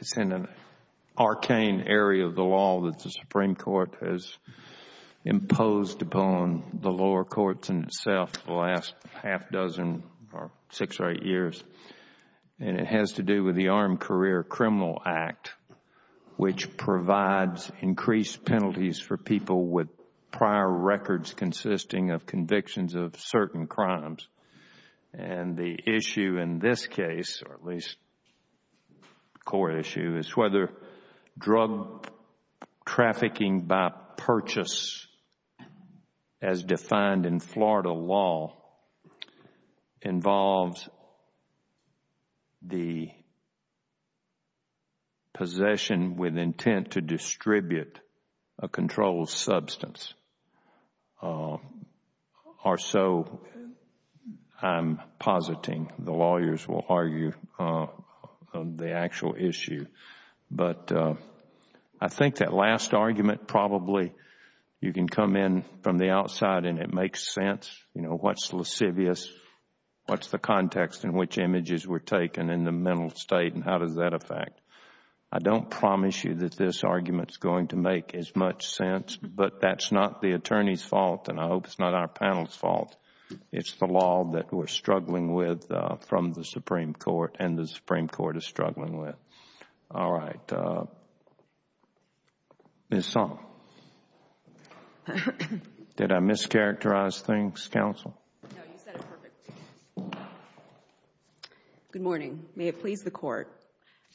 It's in an arcane area of the law that the Supreme Court has imposed upon the lower courts in itself the last half dozen or six or eight years, and it has to do with the Armed Career Criminal Act, which provides increased penalties for people with prior records consisting of convictions of certain crimes. The issue in this case, or at least the core issue, is whether drug trafficking by purchase as defined in Florida law involves the possession with intent to distribute a controlled substance, or so I am positing the lawyers will argue the actual issue. But I think that last argument probably you can come in from the outside and it makes sense, you know, what is lascivious, what is the context in which images were taken in the mental state and how does that affect. I don't promise you that this argument is going to make as much sense, but that is not the attorney's fault and I hope it is not our panel's fault. It is the law that we are struggling with from the Supreme Court and the Supreme Court is struggling with. All right. Ms. Song. Did I mischaracterize things, counsel? No, you said it perfectly. Good morning. May it please the Court.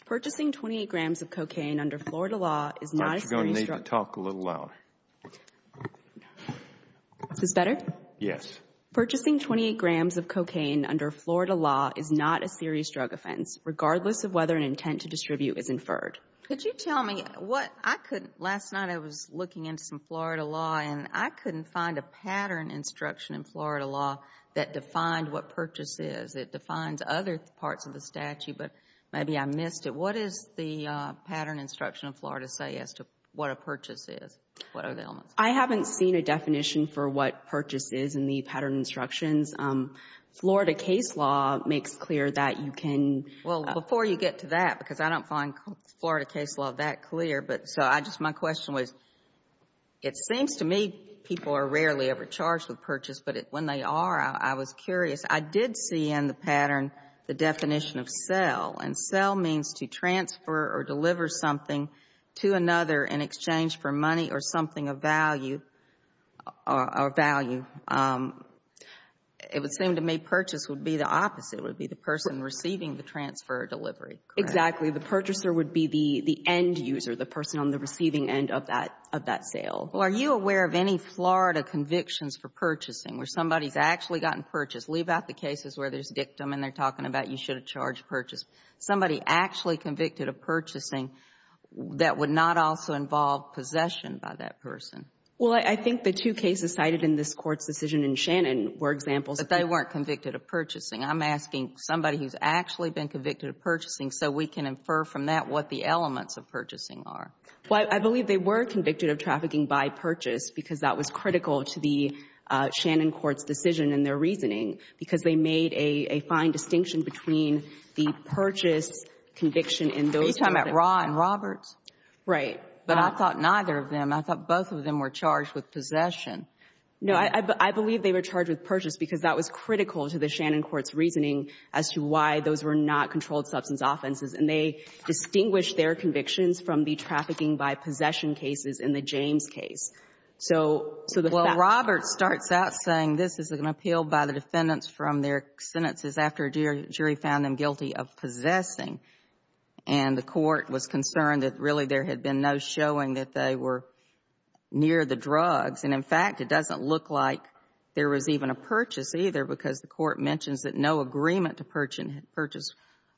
Purchasing 28 grams of cocaine under Florida law is not a serious drug offense. I think you are going to need to talk a little louder. Is this better? Yes. Purchasing 28 grams of cocaine under Florida law is not a serious drug offense, regardless of whether an intent to distribute is inferred. Could you tell me what I couldn't? Last night I was looking into some Florida law and I couldn't find a pattern instruction in Florida law that defined what purchase is. It defines other parts of the statute, but maybe I missed it. What does the pattern instruction of Florida say as to what a purchase is? What are the elements? I haven't seen a definition for what purchase is in the pattern instructions. Florida case law makes clear that you can... Well, before you get to that, because I don't find Florida case law that clear, my question was, it seems to me people are rarely ever charged with purchase, but when they are, I was curious. I did see in the pattern the definition of sell, and sell means to transfer or deliver something to another in exchange for money or something of value. It would seem to me purchase would be the opposite, would be the person receiving the transfer or delivery. Exactly. The purchaser would be the end user, the person on the receiving end of that sale. Are you aware of any Florida convictions for purchasing where somebody has actually gotten purchased? Leave out the cases where there is a victim and they are talking about you should have charged purchase. Somebody actually convicted of purchasing that would not also involve possession by that person. Well, I think the two cases cited in this Court's decision in Shannon were examples that they weren't convicted of purchasing. I'm asking somebody who's actually been convicted of purchasing so we can infer from that what the elements of purchasing are. Well, I believe they were convicted of trafficking by purchase because that was critical to the Shannon court's decision in their reasoning because they made a fine distinction between the purchase conviction in those cases. Are you talking about Raw and Roberts? Right. But I thought neither of them. I thought both of them were charged with possession. No. I believe they were charged with purchase because that was critical to the Shannon court's reasoning as to why those were not controlled substance offenses and they distinguished their convictions from the trafficking by possession cases in the James case. So the fact... Well, Roberts starts out saying this is an appeal by the defendants from their sentences after a jury found them guilty of possessing and the court was concerned that really there had been no showing that they were near the drugs and, in fact, it doesn't look like there was even a purchase either because the court mentions that no agreement to purchase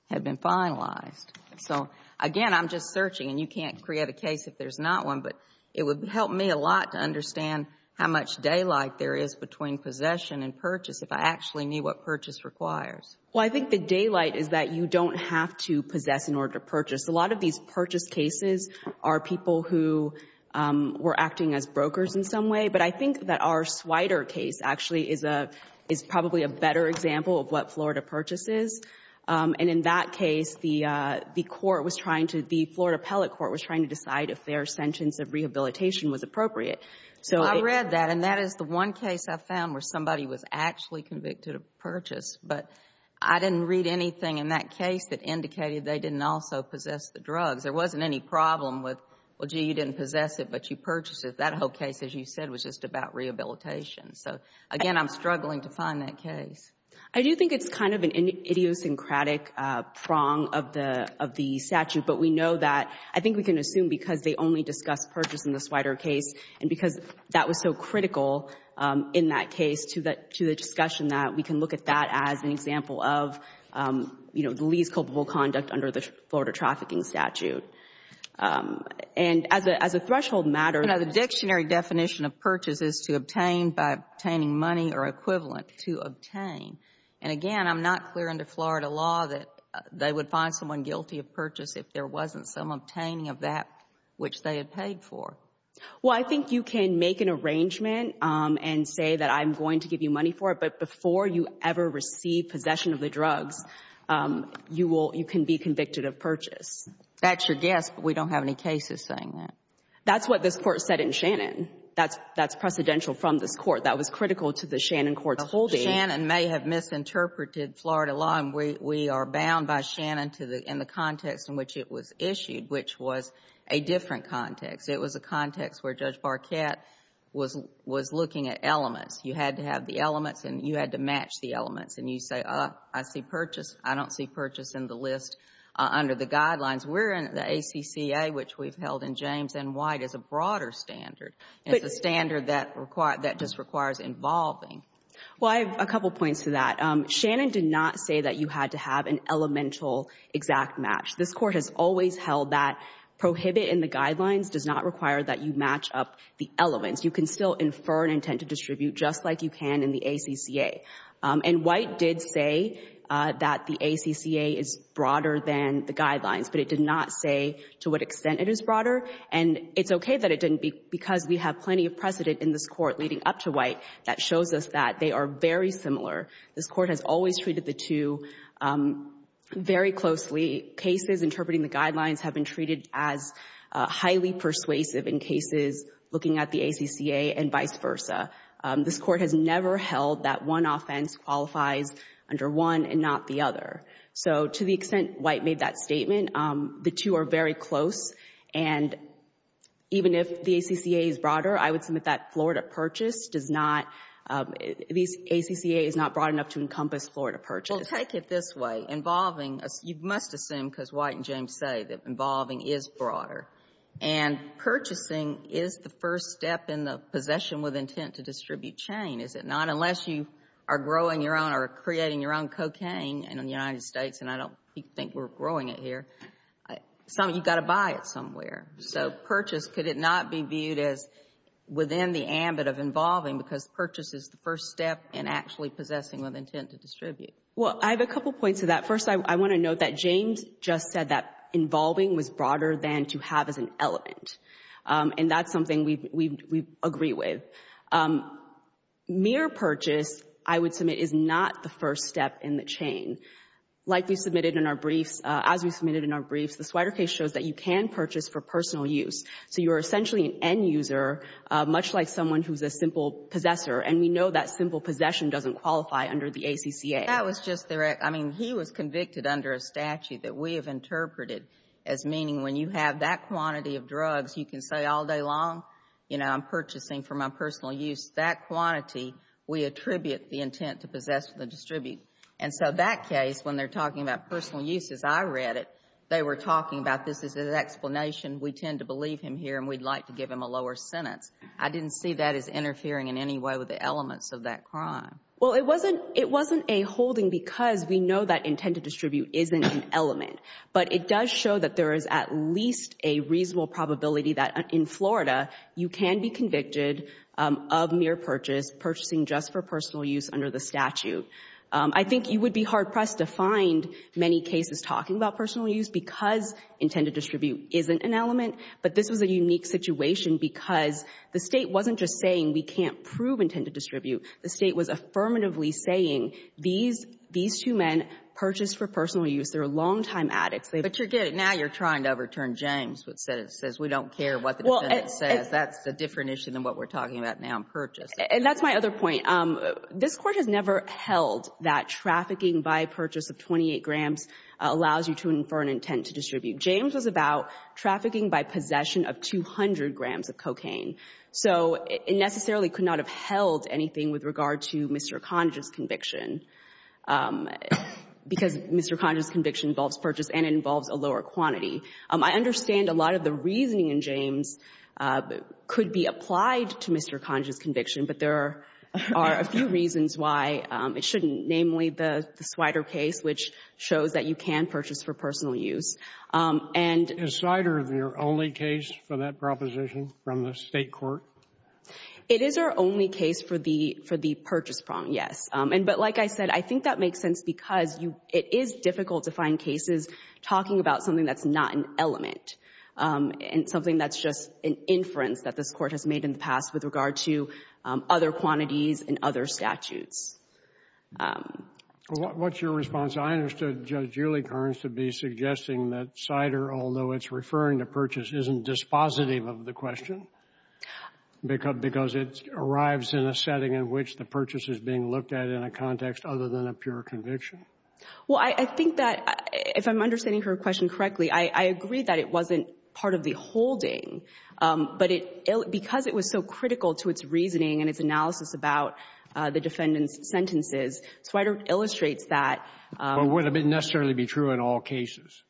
had been finalized. So, again, I'm just searching and you can't create a case if there's not one, but it would help me a lot to understand how much daylight there is between possession and purchase if I actually knew what purchase requires. Well, I think the daylight is that you don't have to possess in order to purchase. A lot of these purchase cases are people who were acting as brokers in some way, but I think that our Swider case actually is probably a better example of what Florida Purchase is and, in that case, the court was trying to... The Florida Appellate Court was trying to decide if their sentence of rehabilitation was appropriate. So I read that and that is the one case I found where somebody was actually convicted of purchase, but I didn't read anything in that case that indicated they didn't also possess the drugs. There wasn't any problem with, well, gee, you didn't possess it, but you purchased it. That whole case, as you said, was just about rehabilitation. So, again, I'm struggling to find that case. I do think it's kind of an idiosyncratic prong of the statute, but we know that, I think we can assume because they only discuss purchase in the Swider case and because that was so critical in that case to the discussion that we can look at that as an example of the least culpable conduct under the Florida Trafficking Statute. And as a threshold matter, the dictionary definition of purchase is to obtain by obtaining money or equivalent. To obtain. And, again, I'm not clear under Florida law that they would find someone guilty of purchase if there wasn't some obtaining of that which they had paid for. Well, I think you can make an arrangement and say that I'm going to give you money for it, but before you ever receive possession of the drugs, you will – you can be convicted of purchase. That's your guess, but we don't have any cases saying that. That's what this Court said in Shannon. That's precedential from this Court. That was critical to the Shannon court's holding. Shannon may have misinterpreted Florida law, and we are bound by Shannon to the – in which it was issued, which was a different context. It was a context where Judge Barkat was – was looking at elements. You had to have the elements and you had to match the elements, and you say, oh, I see purchase. I don't see purchase in the list under the guidelines. We're in the ACCA, which we've held in James N. White, as a broader standard. It's a standard that requires – that just requires involving. Well, I have a couple points to that. Shannon did not say that you had to have an elemental exact match. This Court has always held that prohibit in the guidelines does not require that you match up the elements. You can still infer an intent to distribute just like you can in the ACCA. And White did say that the ACCA is broader than the guidelines, but it did not say to what extent it is broader. And it's okay that it didn't, because we have plenty of precedent in this Court leading up to White that shows us that they are very similar. This Court has always treated the two very closely. Cases interpreting the guidelines have been treated as highly persuasive in cases looking at the ACCA and vice versa. This Court has never held that one offense qualifies under one and not the other. So to the extent White made that statement, the two are very close. And even if the ACCA is broader, I would submit that Florida Purchase does not – the ACCA is not broad enough to encompass Florida Purchase. Well, take it this way. Involving – you must assume, because White and James say, that involving is broader. And purchasing is the first step in the possession with intent to distribute chain, is it not? Unless you are growing your own or creating your own cocaine in the United States, and I don't think we're growing it here, you've got to buy it somewhere. So purchase, could it not be viewed as within the ambit of involving because purchase is the first step in actually possessing with intent to distribute? Well, I have a couple points to that. First, I want to note that James just said that involving was broader than to have as an element. And that's something we agree with. Mere purchase, I would submit, is not the first step in the chain. Like we submitted in our briefs – as we submitted in our briefs, the Swider case shows that you can purchase for personal use. So you are essentially an end user, much like someone who is a simple possessor. And we know that simple possession doesn't qualify under the ACCA. That was just the – I mean, he was convicted under a statute that we have interpreted as meaning when you have that quantity of drugs, you can say all day long, you know, I'm purchasing for my personal use. That quantity, we attribute the intent to possess with a distribute. And so that case, when they're talking about personal use as I read it, they were talking about this is an explanation, we tend to believe him here and we'd like to give him a lower sentence. I didn't see that as interfering in any way with the elements of that crime. Well, it wasn't a holding because we know that intent to distribute isn't an element. But it does show that there is at least a reasonable probability that in Florida, you can be convicted of mere purchase, purchasing just for personal use under the statute. I think you would be hard-pressed to find many cases talking about personal use because intent to distribute isn't an element. But this was a unique situation because the State wasn't just saying we can't prove intent to distribute. The State was affirmatively saying these two men purchased for personal use. They were longtime addicts. But you're getting – now you're trying to overturn James, which says we don't care what the defendant says. That's a different issue than what we're talking about now in purchase. And that's my other point. This Court has never held that trafficking by purchase of 28 grams allows you to infer an intent to distribute. James was about trafficking by possession of 200 grams of cocaine. So it necessarily could not have held anything with regard to Mr. Conagy's conviction because Mr. Conagy's conviction involves purchase and it involves a lower quantity. I understand a lot of the reasoning in James could be applied to Mr. Conagy's conviction, but there are a few reasons why it shouldn't, namely the Swider case, which shows that you can purchase for personal use. And — Is Swider the only case for that proposition from the State court? It is our only case for the – for the purchase prong, yes. And – but like I said, I think that makes sense because you – it is difficult to find cases talking about something that's not an element and something that's just an inference that this Court has made in the past with regard to other quantities and other statutes. What's your response? I understood Judge Julie Kearns to be suggesting that Swider, although it's referring to purchase, isn't dispositive of the question because it arrives in a setting in which the purchase is being looked at in a context other than a pure conviction. Well, I think that if I'm understanding her question correctly, I agree that it wasn't part of the holding, but it – because it was so critical to its reasoning and its analysis about the defendant's sentences, Swider illustrates that — Well, would it necessarily be true in all cases?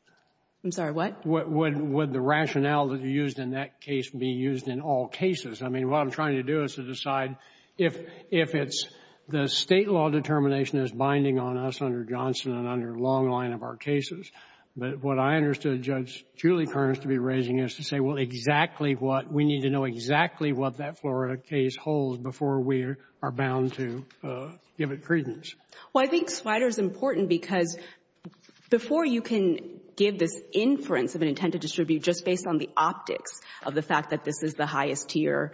I'm sorry. What? Would the rationale that you used in that case be used in all cases? I mean, what I'm trying to do is to decide if it's the State law determination that's binding on us under Johnson and under a long line of our cases. But what I understood Judge Julie Kearns to be raising is to say, well, exactly what – we need to know exactly what that Florida case holds before we are bound to give it credence. Well, I think Swider is important because before you can give this inference of an intent to distribute just based on the optics of the fact that this is the highest tier,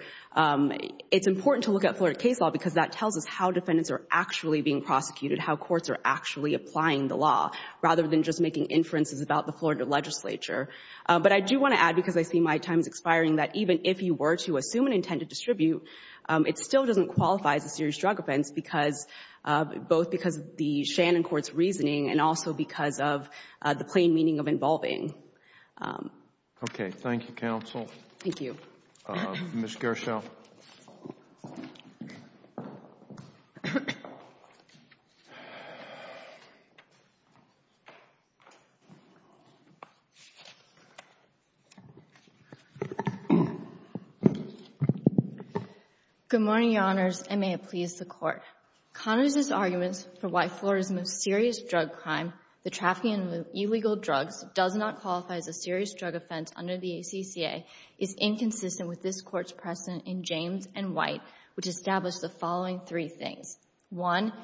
it's important to look at Florida case law because that tells us how defendants are actually being prosecuted, how courts are actually applying the law, rather than just making inferences about the Florida legislature. But I do want to add, because I see my time is expiring, that even if you were to assume an intent to distribute, it still doesn't qualify as a serious drug offense because – both because of the Shannon court's reasoning and also because of the plain meaning of involving. Okay. Thank you, counsel. Thank you. Ms. Gershel. Good morning, Your Honors, and may it please the Court. Connors' argument for why Florida's most serious drug crime, the trafficking of illegal drugs, does not qualify as a serious drug offense under the ACCA is inconsistent with this Court's precedent in James and White, which established the following three things. One,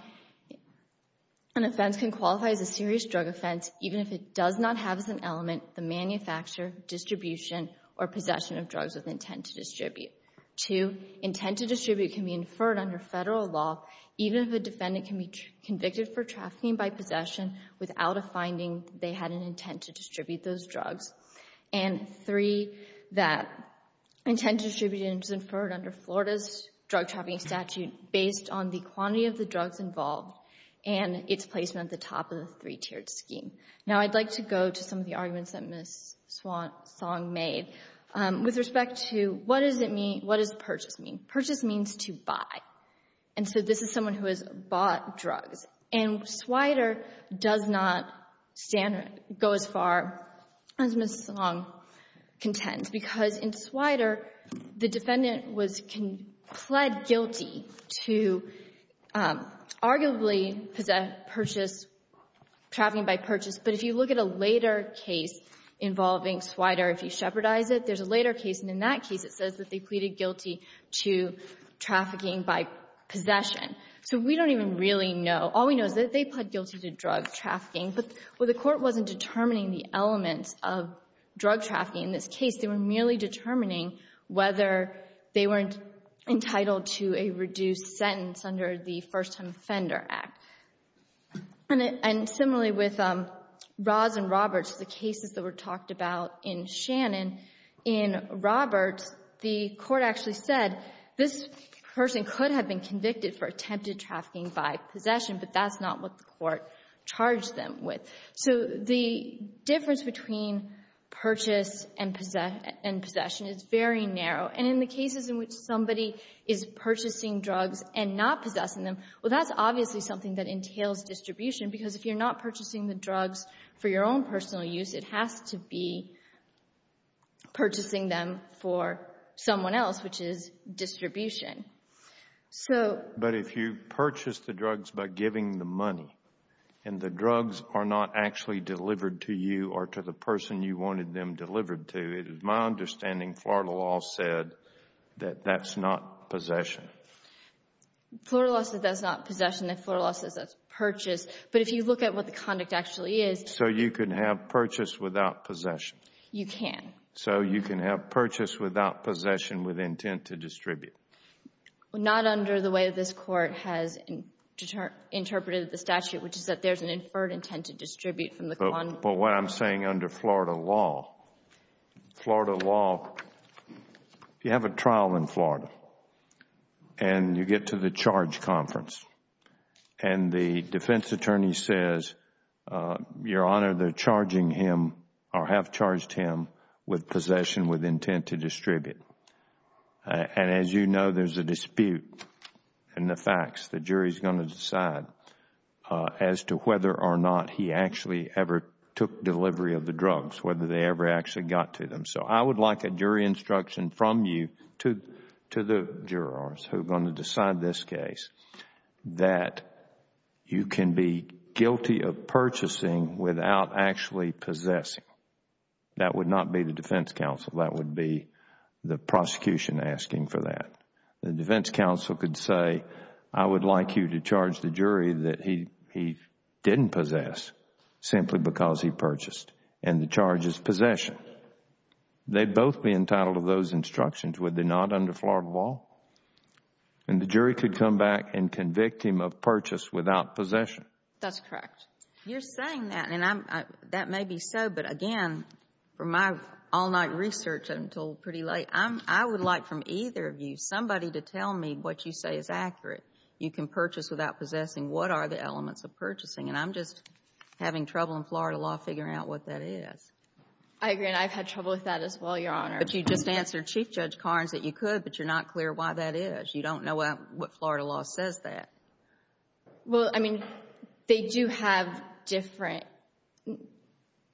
an offense can qualify as a serious drug offense even if it does not have as an element the manufacture, distribution, or possession of drugs with intent to distribute. Two, intent to distribute can be inferred under Federal law even if a defendant can be convicted for trafficking by possession without a finding that they had an intent to distribute those drugs. And three, that intent to distribute is inferred under Florida's drug trafficking statute based on the quantity of the drugs involved and its placement at the top of the three-tiered scheme. Now, I'd like to go to some of the arguments that Ms. Song made with respect to what does purchase mean. Purchase means to buy, and so this is someone who has bought drugs. And Swider does not stand or go as far as Ms. Song contends because in Swider, the defendant was pled guilty to arguably possess, purchase, trafficking by purchase, but if you look at a later case involving Swider, if you shepherdize it, there's a later case, and in that case it says that they pleaded guilty to trafficking by possession. So we don't even really know. All we know is that they pled guilty to drug trafficking, but the Court wasn't determining the elements of drug trafficking in this case. They were merely determining whether they weren't entitled to a reduced sentence under the First Time Offender Act. And similarly with Ross and Roberts, the cases that were talked about in Shannon, in Roberts, the Court actually said this person could have been convicted for attempted trafficking by possession, but that's not what the Court charged them with. So the difference between purchase and possession is very narrow. And in the cases in which somebody is purchasing drugs and not possessing them, well, that's obviously something that entails distribution because if you're not purchasing the drugs for your own personal use, it has to be purchasing them for someone else, which is distribution. But if you purchase the drugs by giving the money, and the drugs are not actually delivered to you or to the person you wanted them delivered to, it is my understanding Florida law said that that's not possession. Florida law says that's not possession, Florida law says that's purchase, but if you look at what the conduct actually is. So you can have purchase without possession? You can. So you can have purchase without possession with intent to distribute? Not under the way this Court has interpreted the statute, which is that there's an inferred intent to distribute from the conduct. But what I'm saying under Florida law, Florida law, you have a trial in Florida and you get to the charge conference and the defense attorney says, Your Honor, they're charging him or have charged him with possession with intent to distribute. And as you know, there's a dispute in the facts. The jury is going to decide as to whether or not he actually ever took delivery of the drugs, whether they ever actually got to them. So I would like a jury instruction from you to the jurors who are going to decide this case that you can be guilty of purchasing without actually possessing. That would not be the defense counsel, that would be the prosecution asking for that. The defense counsel could say, I would like you to charge the jury that he didn't possess simply because he purchased, and the charge is possession. They'd both be entitled to those instructions, would they not, under Florida law? And the jury could come back and convict him of purchase without possession. That's correct. You're saying that, and that may be so, but again, from my all-night research, I'm told pretty late, I would like from either of you somebody to tell me what you say is accurate, you can purchase without possessing, what are the elements of purchasing? And I'm just having trouble in Florida law figuring out what that is. I agree, and I've had trouble with that as well, Your Honor. But you just answered Chief Judge Carnes that you could, but you're not clear why that is. You don't know what Florida law says that. Well, I mean, they do have different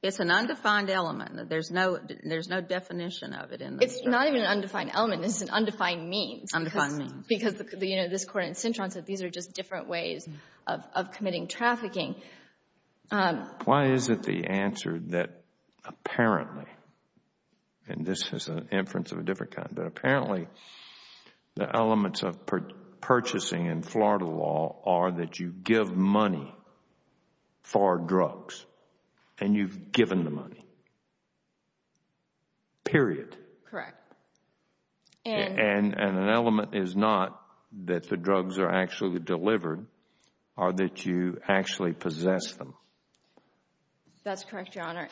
It's an undefined element. There's no definition of it in the statute. It's not even an undefined element, it's an undefined means. Undefined means. Because, you know, this Court in Cintron said these are just different ways of committing trafficking. Why is it the answer that apparently, and this is an inference of a different kind, but apparently the elements of purchasing in Florida law are that you give money for drugs and you've given the money, period. Correct. And an element is not that the drugs are actually delivered, or that you actually possess them. That's correct, Your Honor.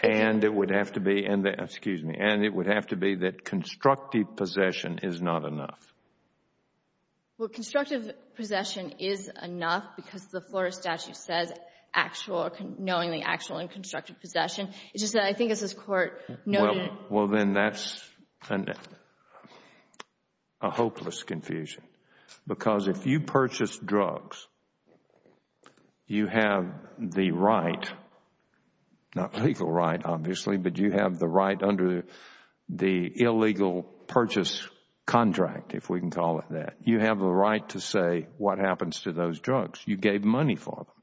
And it would have to be, excuse me, and it would have to be that constructive possession is not enough. Well, constructive possession is enough because the Florida statute says actual, or knowing the actual and constructive possession. It's just that I think it's this Court noted. Well, then that's a hopeless confusion. Because if you purchase drugs, you have the right, not legal right, obviously, but you have the right under the illegal purchase contract, if we can call it that. You have the right to say what happens to those drugs. You gave money for them.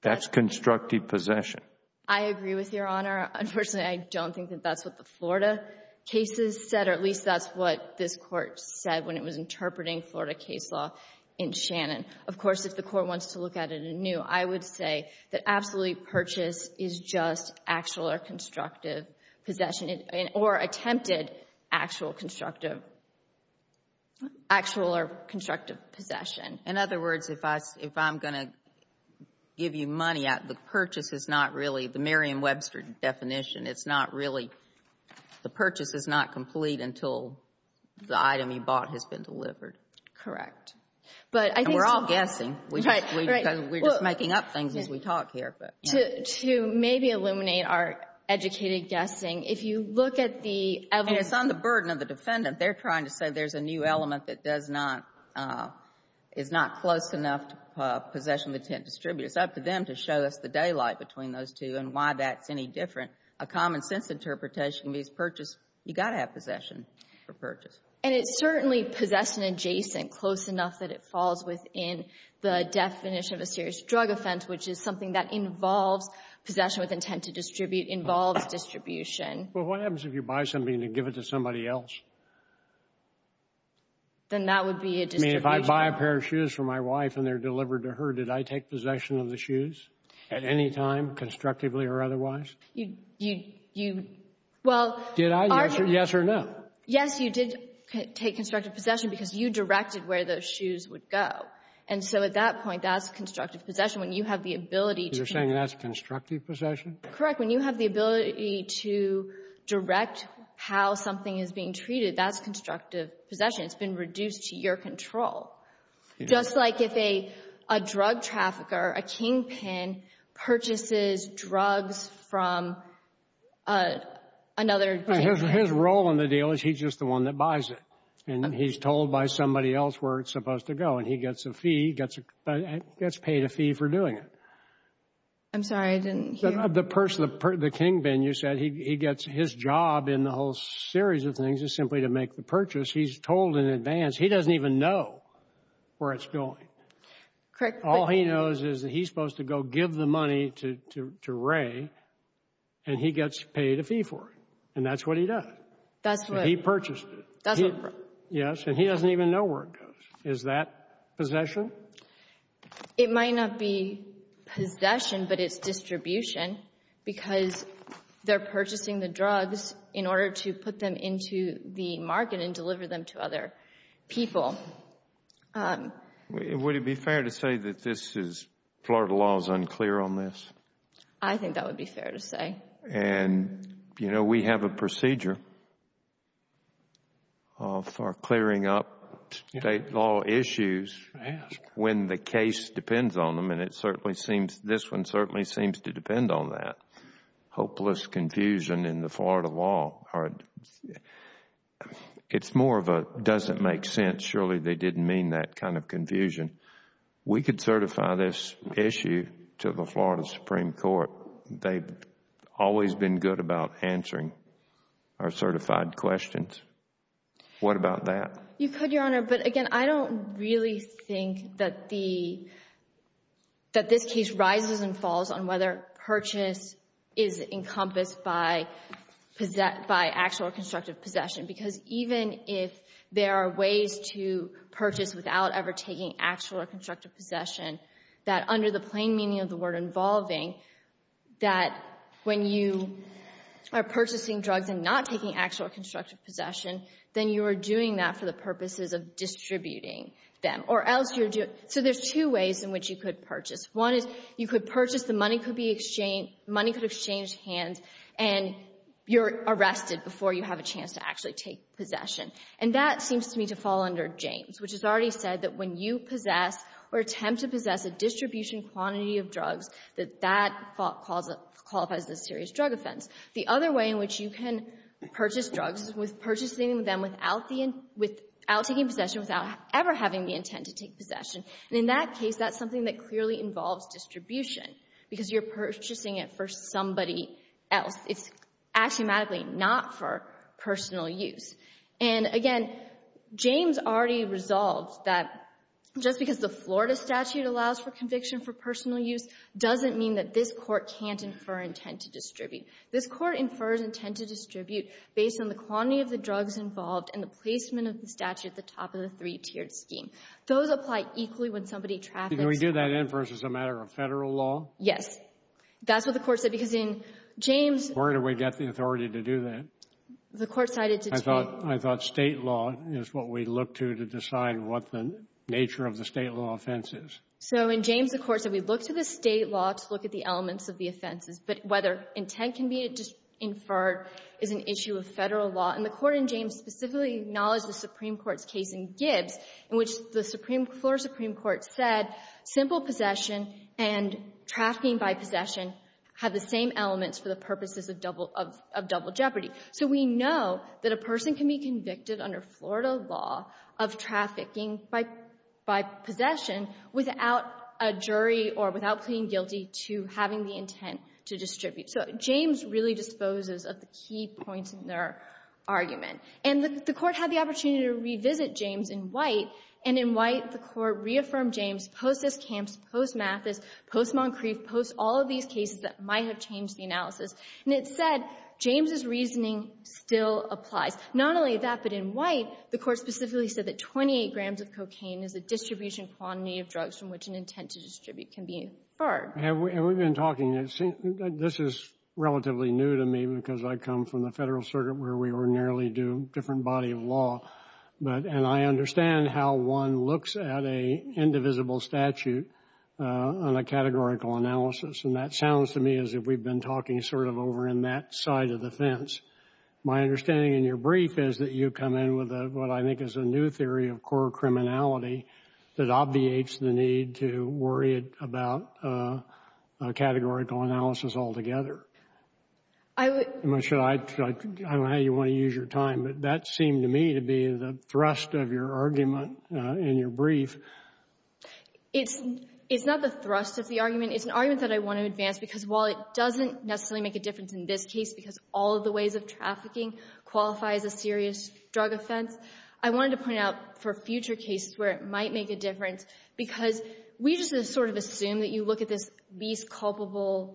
That's constructive possession. I agree with you, Your Honor. Unfortunately, I don't think that that's what the Florida cases said, or at least that's what this Court said when it was interpreting Florida case law in Shannon. Of course, if the Court wants to look at it anew, I would say that absolute purchase is just actual or constructive possession, or attempted actual or constructive possession. In other words, if I'm going to give you money, the purchase is not really the Merriam-Webster definition. It's not really, the purchase is not complete until the item you bought has been delivered. Correct. And we're all guessing. Right, right. Because we're just making up things as we talk here. To maybe illuminate our educated guessing, if you look at the evidence And it's on the is not close enough to possession of intent to distribute. It's up to them to show us the daylight between those two and why that's any different. A common sense interpretation is purchase, you've got to have possession for purchase. And it's certainly possession adjacent, close enough that it falls within the definition of a serious drug offense, which is something that involves possession with intent to distribute, involves distribution. Well, what happens if you buy something and you give it to somebody else? Then that would be a distribution. I mean, if I buy a pair of shoes for my wife and they're delivered to her, did I take possession of the shoes at any time, constructively or otherwise? You, you, you, well. Did I? Yes or no? Yes, you did take constructive possession because you directed where those shoes would go. And so at that point, that's constructive possession when you have the ability to. You're saying that's constructive possession? Correct. When you have the ability to direct how something is being treated, that's constructive possession. It's been reduced to your control. Just like if a drug trafficker, a kingpin, purchases drugs from another kingpin. His role in the deal is he's just the one that buys it and he's told by somebody else where it's supposed to go and he gets a fee, gets paid a fee for doing it. I'm sorry, I didn't hear. The person, the kingpin, you said, he gets his job in the whole series of things is simply to make the purchase. He's told in advance. He doesn't even know where it's going. Correct. All he knows is that he's supposed to go give the money to Ray and he gets paid a fee for it. And that's what he does. That's what? He purchased it. That's what? Yes. And he doesn't even know where it goes. Is that possession? It might not be possession, but it's distribution because they're purchasing the drugs in order to put them into the market and deliver them to other people. Would it be fair to say that this is, Florida law is unclear on this? I think that would be fair to say. And you know, we have a procedure for clearing up state law issues when the case depends on them and it certainly seems, this one certainly seems to depend on that. Hopeless confusion in the Florida law, it's more of a doesn't make sense, surely they didn't mean that kind of confusion. We could certify this issue to the Florida Supreme Court. They've always been good about answering our certified questions. What about that? You've heard, Your Honor, but again, I don't really think that this case rises and falls on whether purchase is encompassed by actual or constructive possession. Because even if there are ways to purchase without ever taking actual or constructive possession, that under the plain meaning of the word involving, that when you are purchasing drugs and not taking actual or constructive possession, then you are doing that for the purposes of distributing them. Or else you're doing, so there's two ways in which you could purchase. One is you could purchase, the money could be exchanged, money could exchange hands, and you're arrested before you have a chance to actually take possession. And that seems to me to fall under James, which has already said that when you possess or attempt to possess a distribution quantity of drugs, that that qualifies as a serious drug offense. The other way in which you can purchase drugs is with purchasing them without the, without taking possession, without ever having the intent to take possession. And in that case, that's something that clearly involves distribution, because you're purchasing it for somebody else. It's axiomatically not for personal use. And again, James already resolved that just because the Florida statute allows for conviction for personal use doesn't mean that this Court can't infer intent to distribute. This Court infers intent to distribute based on the quantity of the drugs involved and the placement of the statute at the top of the three-tiered scheme. Those apply equally when somebody traffics. Can we do that inference as a matter of Federal law? Yes. That's what the Court said, because in James. Where do we get the authority to do that? The Court cited to take. I thought State law is what we look to to decide what the nature of the State law offense is. So in James, the Court said we look to the State law to look at the elements of the offenses. But whether intent can be inferred is an issue of Federal law. And the Court in James specifically acknowledged the Supreme Court's case in Gibbs, in which the Supreme Court said simple possession and trafficking by possession have the same elements for the purposes of double jeopardy. So we know that a person can be convicted under Florida law of trafficking by possession without a jury or without pleading guilty to having the intent to distribute. So James really disposes of the key points in their argument. And the Court had the opportunity to revisit James in White. And in White, the Court reaffirmed James post-Siskamps, post-Mathis, post-Moncrief, post all of these cases that might have changed the analysis. And it said James' reasoning still applies. Not only that, but in White, the Court specifically said that 28 grams of cocaine is the distribution quantity of drugs from which an intent to distribute can be inferred. Have we been talking? This is relatively new to me because I come from the Federal circuit where we ordinarily do a different body of law. And I understand how one looks at an indivisible statute on a categorical analysis. And that sounds to me as if we've been talking sort of over in that side of the fence. My understanding in your brief is that you come in with what I think is a new theory of core criminality that obviates the need to worry about a categorical analysis altogether. I would... I don't know how you want to use your time, but that seemed to me to be the thrust of your argument in your brief. It's not the thrust of the argument. It's an argument that I want to advance because while it doesn't necessarily make a difference in this case because all of the ways of trafficking qualify as a serious drug offense, I wanted to point out for future cases where it might make a difference because we just sort of assume that you look at this least culpable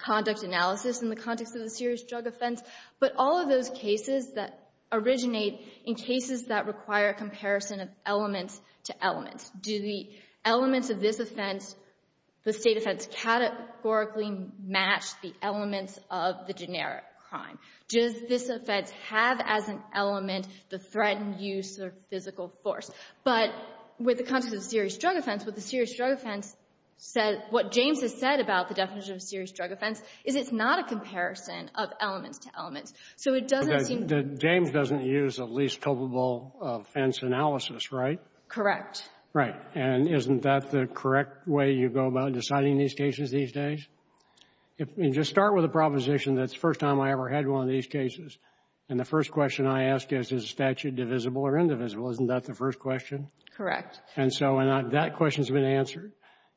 conduct analysis in the context of a serious drug offense. But all of those cases that originate in cases that require a comparison of elements to elements. Do the elements of this offense, the state offense, categorically match the elements of the generic crime? Does this offense have as an element the threatened use of physical force? But with the context of a serious drug offense, with a serious drug offense, what James has said about the definition of a serious drug offense is it's not a comparison of elements to elements. So it doesn't seem... James doesn't use a least culpable offense analysis, right? Correct. Right. And isn't that the correct way you go about deciding these cases these days? If you just start with a proposition that's the first time I ever had one of these cases and the first question I ask is, is the statute divisible or indivisible? Isn't that the first question? Correct. And so that question's been answered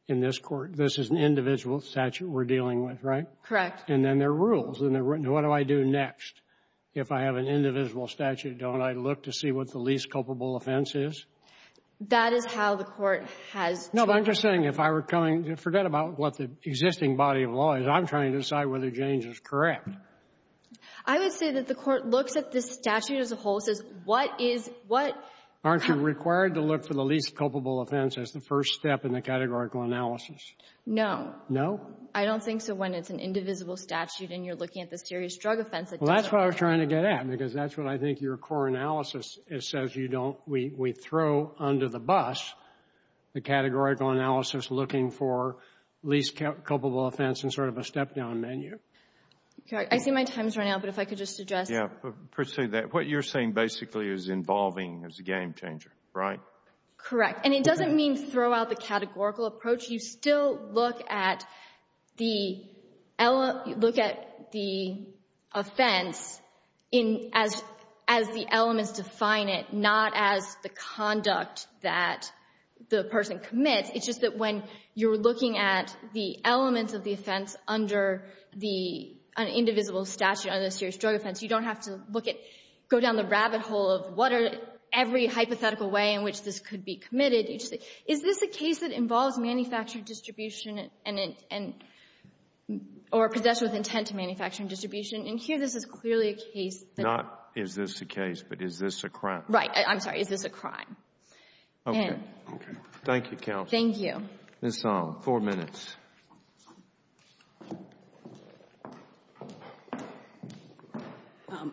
in this Court. This is an individual statute we're dealing with, right? Correct. And then there are rules. And what do I do next if I have an individual statute? Don't I look to see what the least culpable offense is? That is how the Court has... No, but I'm just saying if I were coming... Forget about what the existing body of law is. I'm trying to decide whether James is correct. I would say that the Court looks at this statute as a whole and says, what is... Aren't you required to look for the least culpable offense as the first step in the categorical analysis? No. No? I don't think so when it's an indivisible statute and you're looking at the serious drug offense. Well, that's what I was trying to get at, because that's what I think your core analysis says you don't... We throw under the bus the categorical analysis looking for least culpable offense in sort of a step-down menu. I see my time is running out, but if I could just address... Yeah, proceed with that. What you're saying basically is involving as a game changer, right? Correct. And it doesn't mean throw out the categorical approach. You still look at the offense as the elements define it, not as the conduct that the person commits. It's just that when you're looking at the elements of the offense under the indivisible statute under the serious drug offense, you don't have to look at, go down the rabbit hole of what are every hypothetical way in which this could be committed. You just say, is this a case that involves manufactured distribution and or possession with intent to manufacturing distribution? And here this is clearly a case that... Not is this a case, but is this a crime? Right. I'm sorry. Is this a crime? Okay. Okay. Thank you, counsel. Thank you. Ms. Song, four minutes.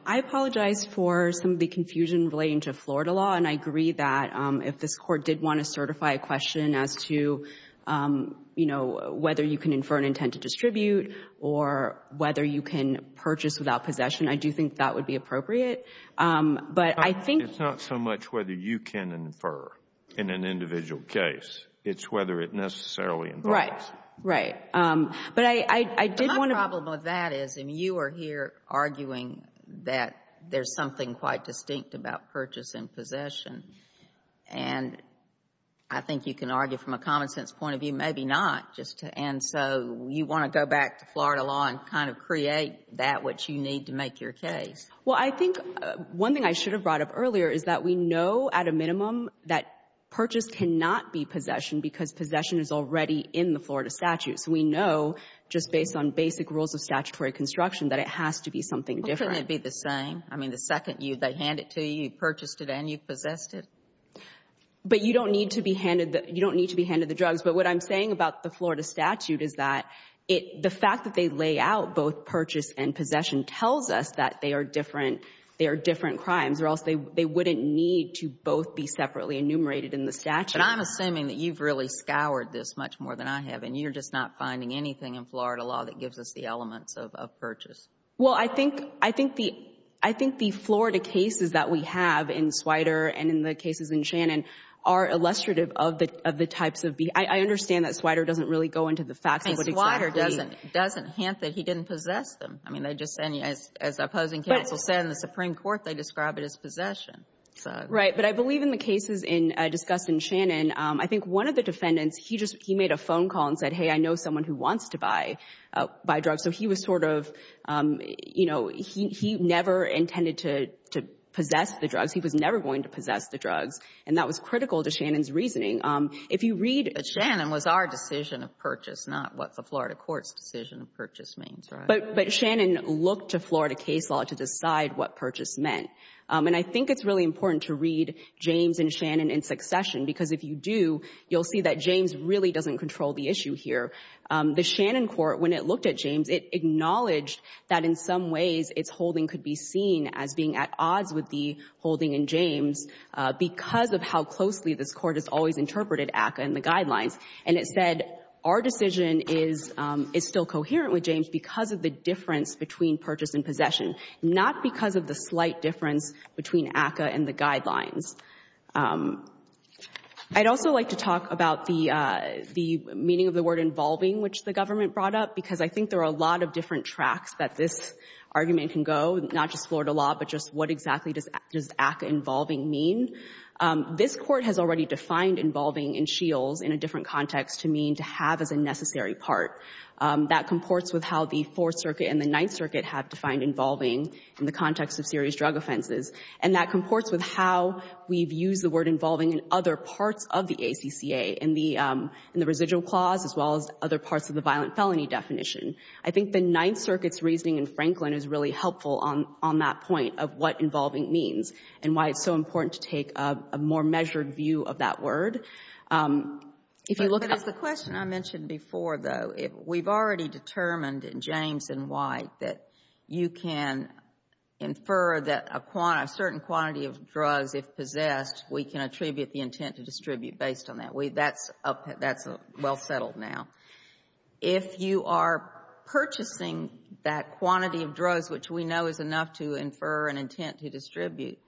I apologize for some of the confusion relating to Florida law, and I agree that if this court did want to certify a question as to, you know, whether you can infer an intent to distribute or whether you can purchase without possession, I do think that would be appropriate. But I think... It's not so much whether you can infer in an individual case. It's whether it necessarily involves. Right. Right. But I did want to... But my problem with that is, and you are here arguing that there's something quite distinct about purchase and possession. And I think you can argue from a common-sense point of view, maybe not, just to end. So you want to go back to Florida law and kind of create that which you need to make your case. Well, I think one thing I should have brought up earlier is that we know at a minimum that purchase cannot be possession because possession is already in the Florida statute. So we know just based on basic rules of statutory construction that it has to be something different. Well, couldn't it be the same? I mean, the second they hand it to you, you purchased it and you possessed it? But you don't need to be handed the drugs. But what I'm saying about the Florida statute is that the fact that they lay out both purchase and possession tells us that they are different crimes or else they wouldn't need to both be separately enumerated in the statute. But I'm assuming that you've really scoured this much more than I have. And you're just not finding anything in Florida law that gives us the elements of purchase. Well, I think the Florida cases that we have in Swider and in the cases in Shannon are illustrative of the types of... I understand that Swider doesn't really go into the facts of what exactly... I mean, Swider doesn't hint that he didn't possess them. I mean, they just said, as the opposing counsel said in the Supreme Court, they described it as possession. Right. But I believe in the cases discussed in Shannon, I think one of the defendants, he made a phone call and said, hey, I know someone who wants to buy drugs. So he was sort of, you know, he never intended to possess the drugs. He was never going to possess the drugs. And that was critical to Shannon's reasoning. If you read... But Shannon was our decision of purchase, not what the Florida court's decision of purchase means, right? But Shannon looked to Florida case law to decide what purchase meant. And I think it's really important to read James and Shannon in succession, because if you do, you'll see that James really doesn't control the issue here. The Shannon court, when it looked at James, it acknowledged that in some ways its holding could be seen as being at odds with the holding in James because of how closely this court has always interpreted ACCA and the guidelines. And it said, our decision is still coherent with James because of the difference between purchase and possession, not because of the slight difference between ACCA and the guidelines. I'd also like to talk about the meaning of the word involving, which the government brought up, because I think there are a lot of different tracks that this argument can go, not just Florida law, but just what exactly does ACCA involving mean. This court has already defined involving in shields in a different context to mean to have as a necessary part. That comports with how the Fourth Circuit and the Ninth Circuit have defined involving in the context of serious drug offenses. And that comports with how we've used the word involving in other parts of the ACCA, in the residual clause, as well as other parts of the violent felony definition. I think the Ninth Circuit's reasoning in Franklin is really helpful on that point of what involving means and why it's so important to take a more measured view of that word. If you look at the question I mentioned before, though, we've already determined in James and White that you can infer that a certain quantity of drugs, if possessed, we can attribute the intent to distribute based on that. That's well settled now. If you are purchasing that quantity of drugs, which we know is enough to infer an intent to distribute,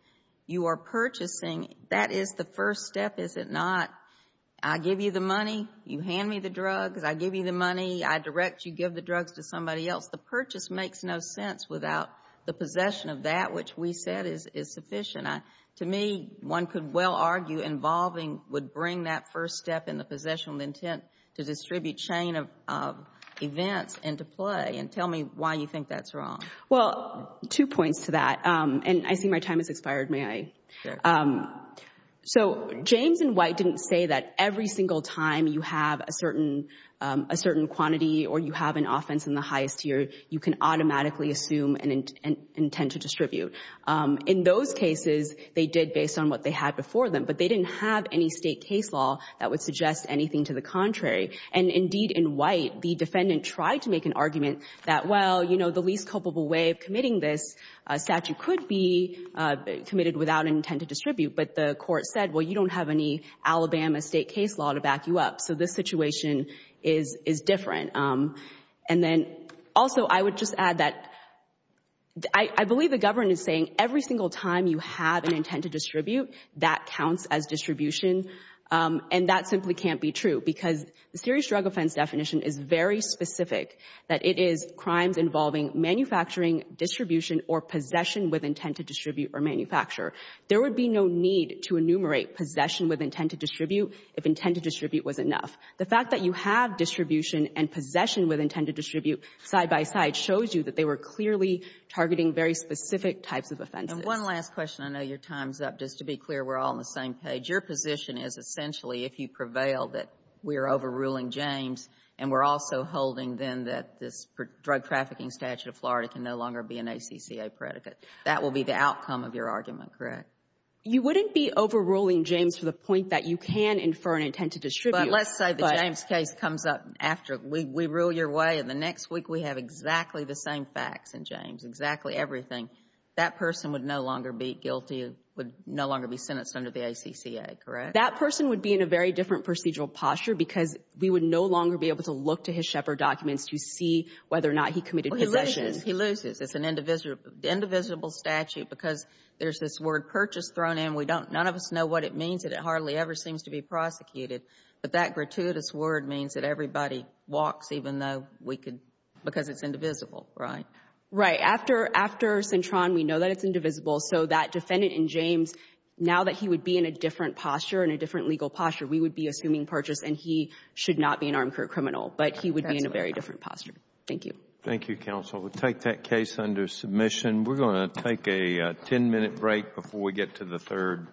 you are purchasing, that is the first step, is it not? I give you the money, you hand me the drugs, I give you the money, I direct you give the drugs to somebody else. The purchase makes no sense without the possession of that, which we said is sufficient. To me, one could well argue involving would bring that first step in the possession of the intent to distribute chain of events into play. And tell me why you think that's wrong. Well, two points to that. And I see my time has expired, may I? So, James and White didn't say that every single time you have a certain quantity or you have an offense in the highest tier, you can automatically assume an intent to distribute. In those cases, they did based on what they had before them, but they didn't have any state case law that would suggest anything to the contrary. And indeed, in White, the defendant tried to make an argument that, well, you know, the least culpable way of committing this statute could be committed without intent to distribute. But the court said, well, you don't have any Alabama state case law to back you up. So this situation is different. And then also, I would just add that I believe the government is saying every single time you have an intent to distribute, that counts as distribution. And that simply can't be true because the serious drug offense definition is very specific that it is crimes involving manufacturing, distribution or possession with intent to distribute or manufacture. There would be no need to enumerate possession with intent to distribute if intent to distribute was enough. The fact that you have distribution and possession with intent to distribute side by side shows you that they were clearly targeting very specific types of offenses. And one last question. I know your time's up. Just to be clear, we're all on the same page. Your position is essentially, if you prevail, that we're overruling James and we're also holding, then, that this drug trafficking statute of Florida can no longer be an ACCA predicate. That will be the outcome of your argument, correct? You wouldn't be overruling James to the point that you can infer an intent to distribute. But let's say the James case comes up after we rule your way and the next week we have exactly the same facts in James, exactly everything, that person would no longer be guilty, would no longer be sentenced under the ACCA, correct? That person would be in a very different procedural posture because we would no longer be able to look to his Shepherd documents to see whether or not he committed possession. He loses. It's an indivisible statute because there's this word purchase thrown in. We don't, none of us know what it means and it hardly ever seems to be prosecuted. But that gratuitous word means that everybody walks even though we could, because it's indivisible, right? Right. After, after Cintron, we know that it's indivisible. So that defendant in James, now that he would be in a different posture, in a different legal posture, we would be assuming purchase and he should not be an armed career criminal. But he would be in a very different posture. Thank you. Thank you, counsel. We'll take that case under submission. We're going to take a 10-minute break before we get to the third case.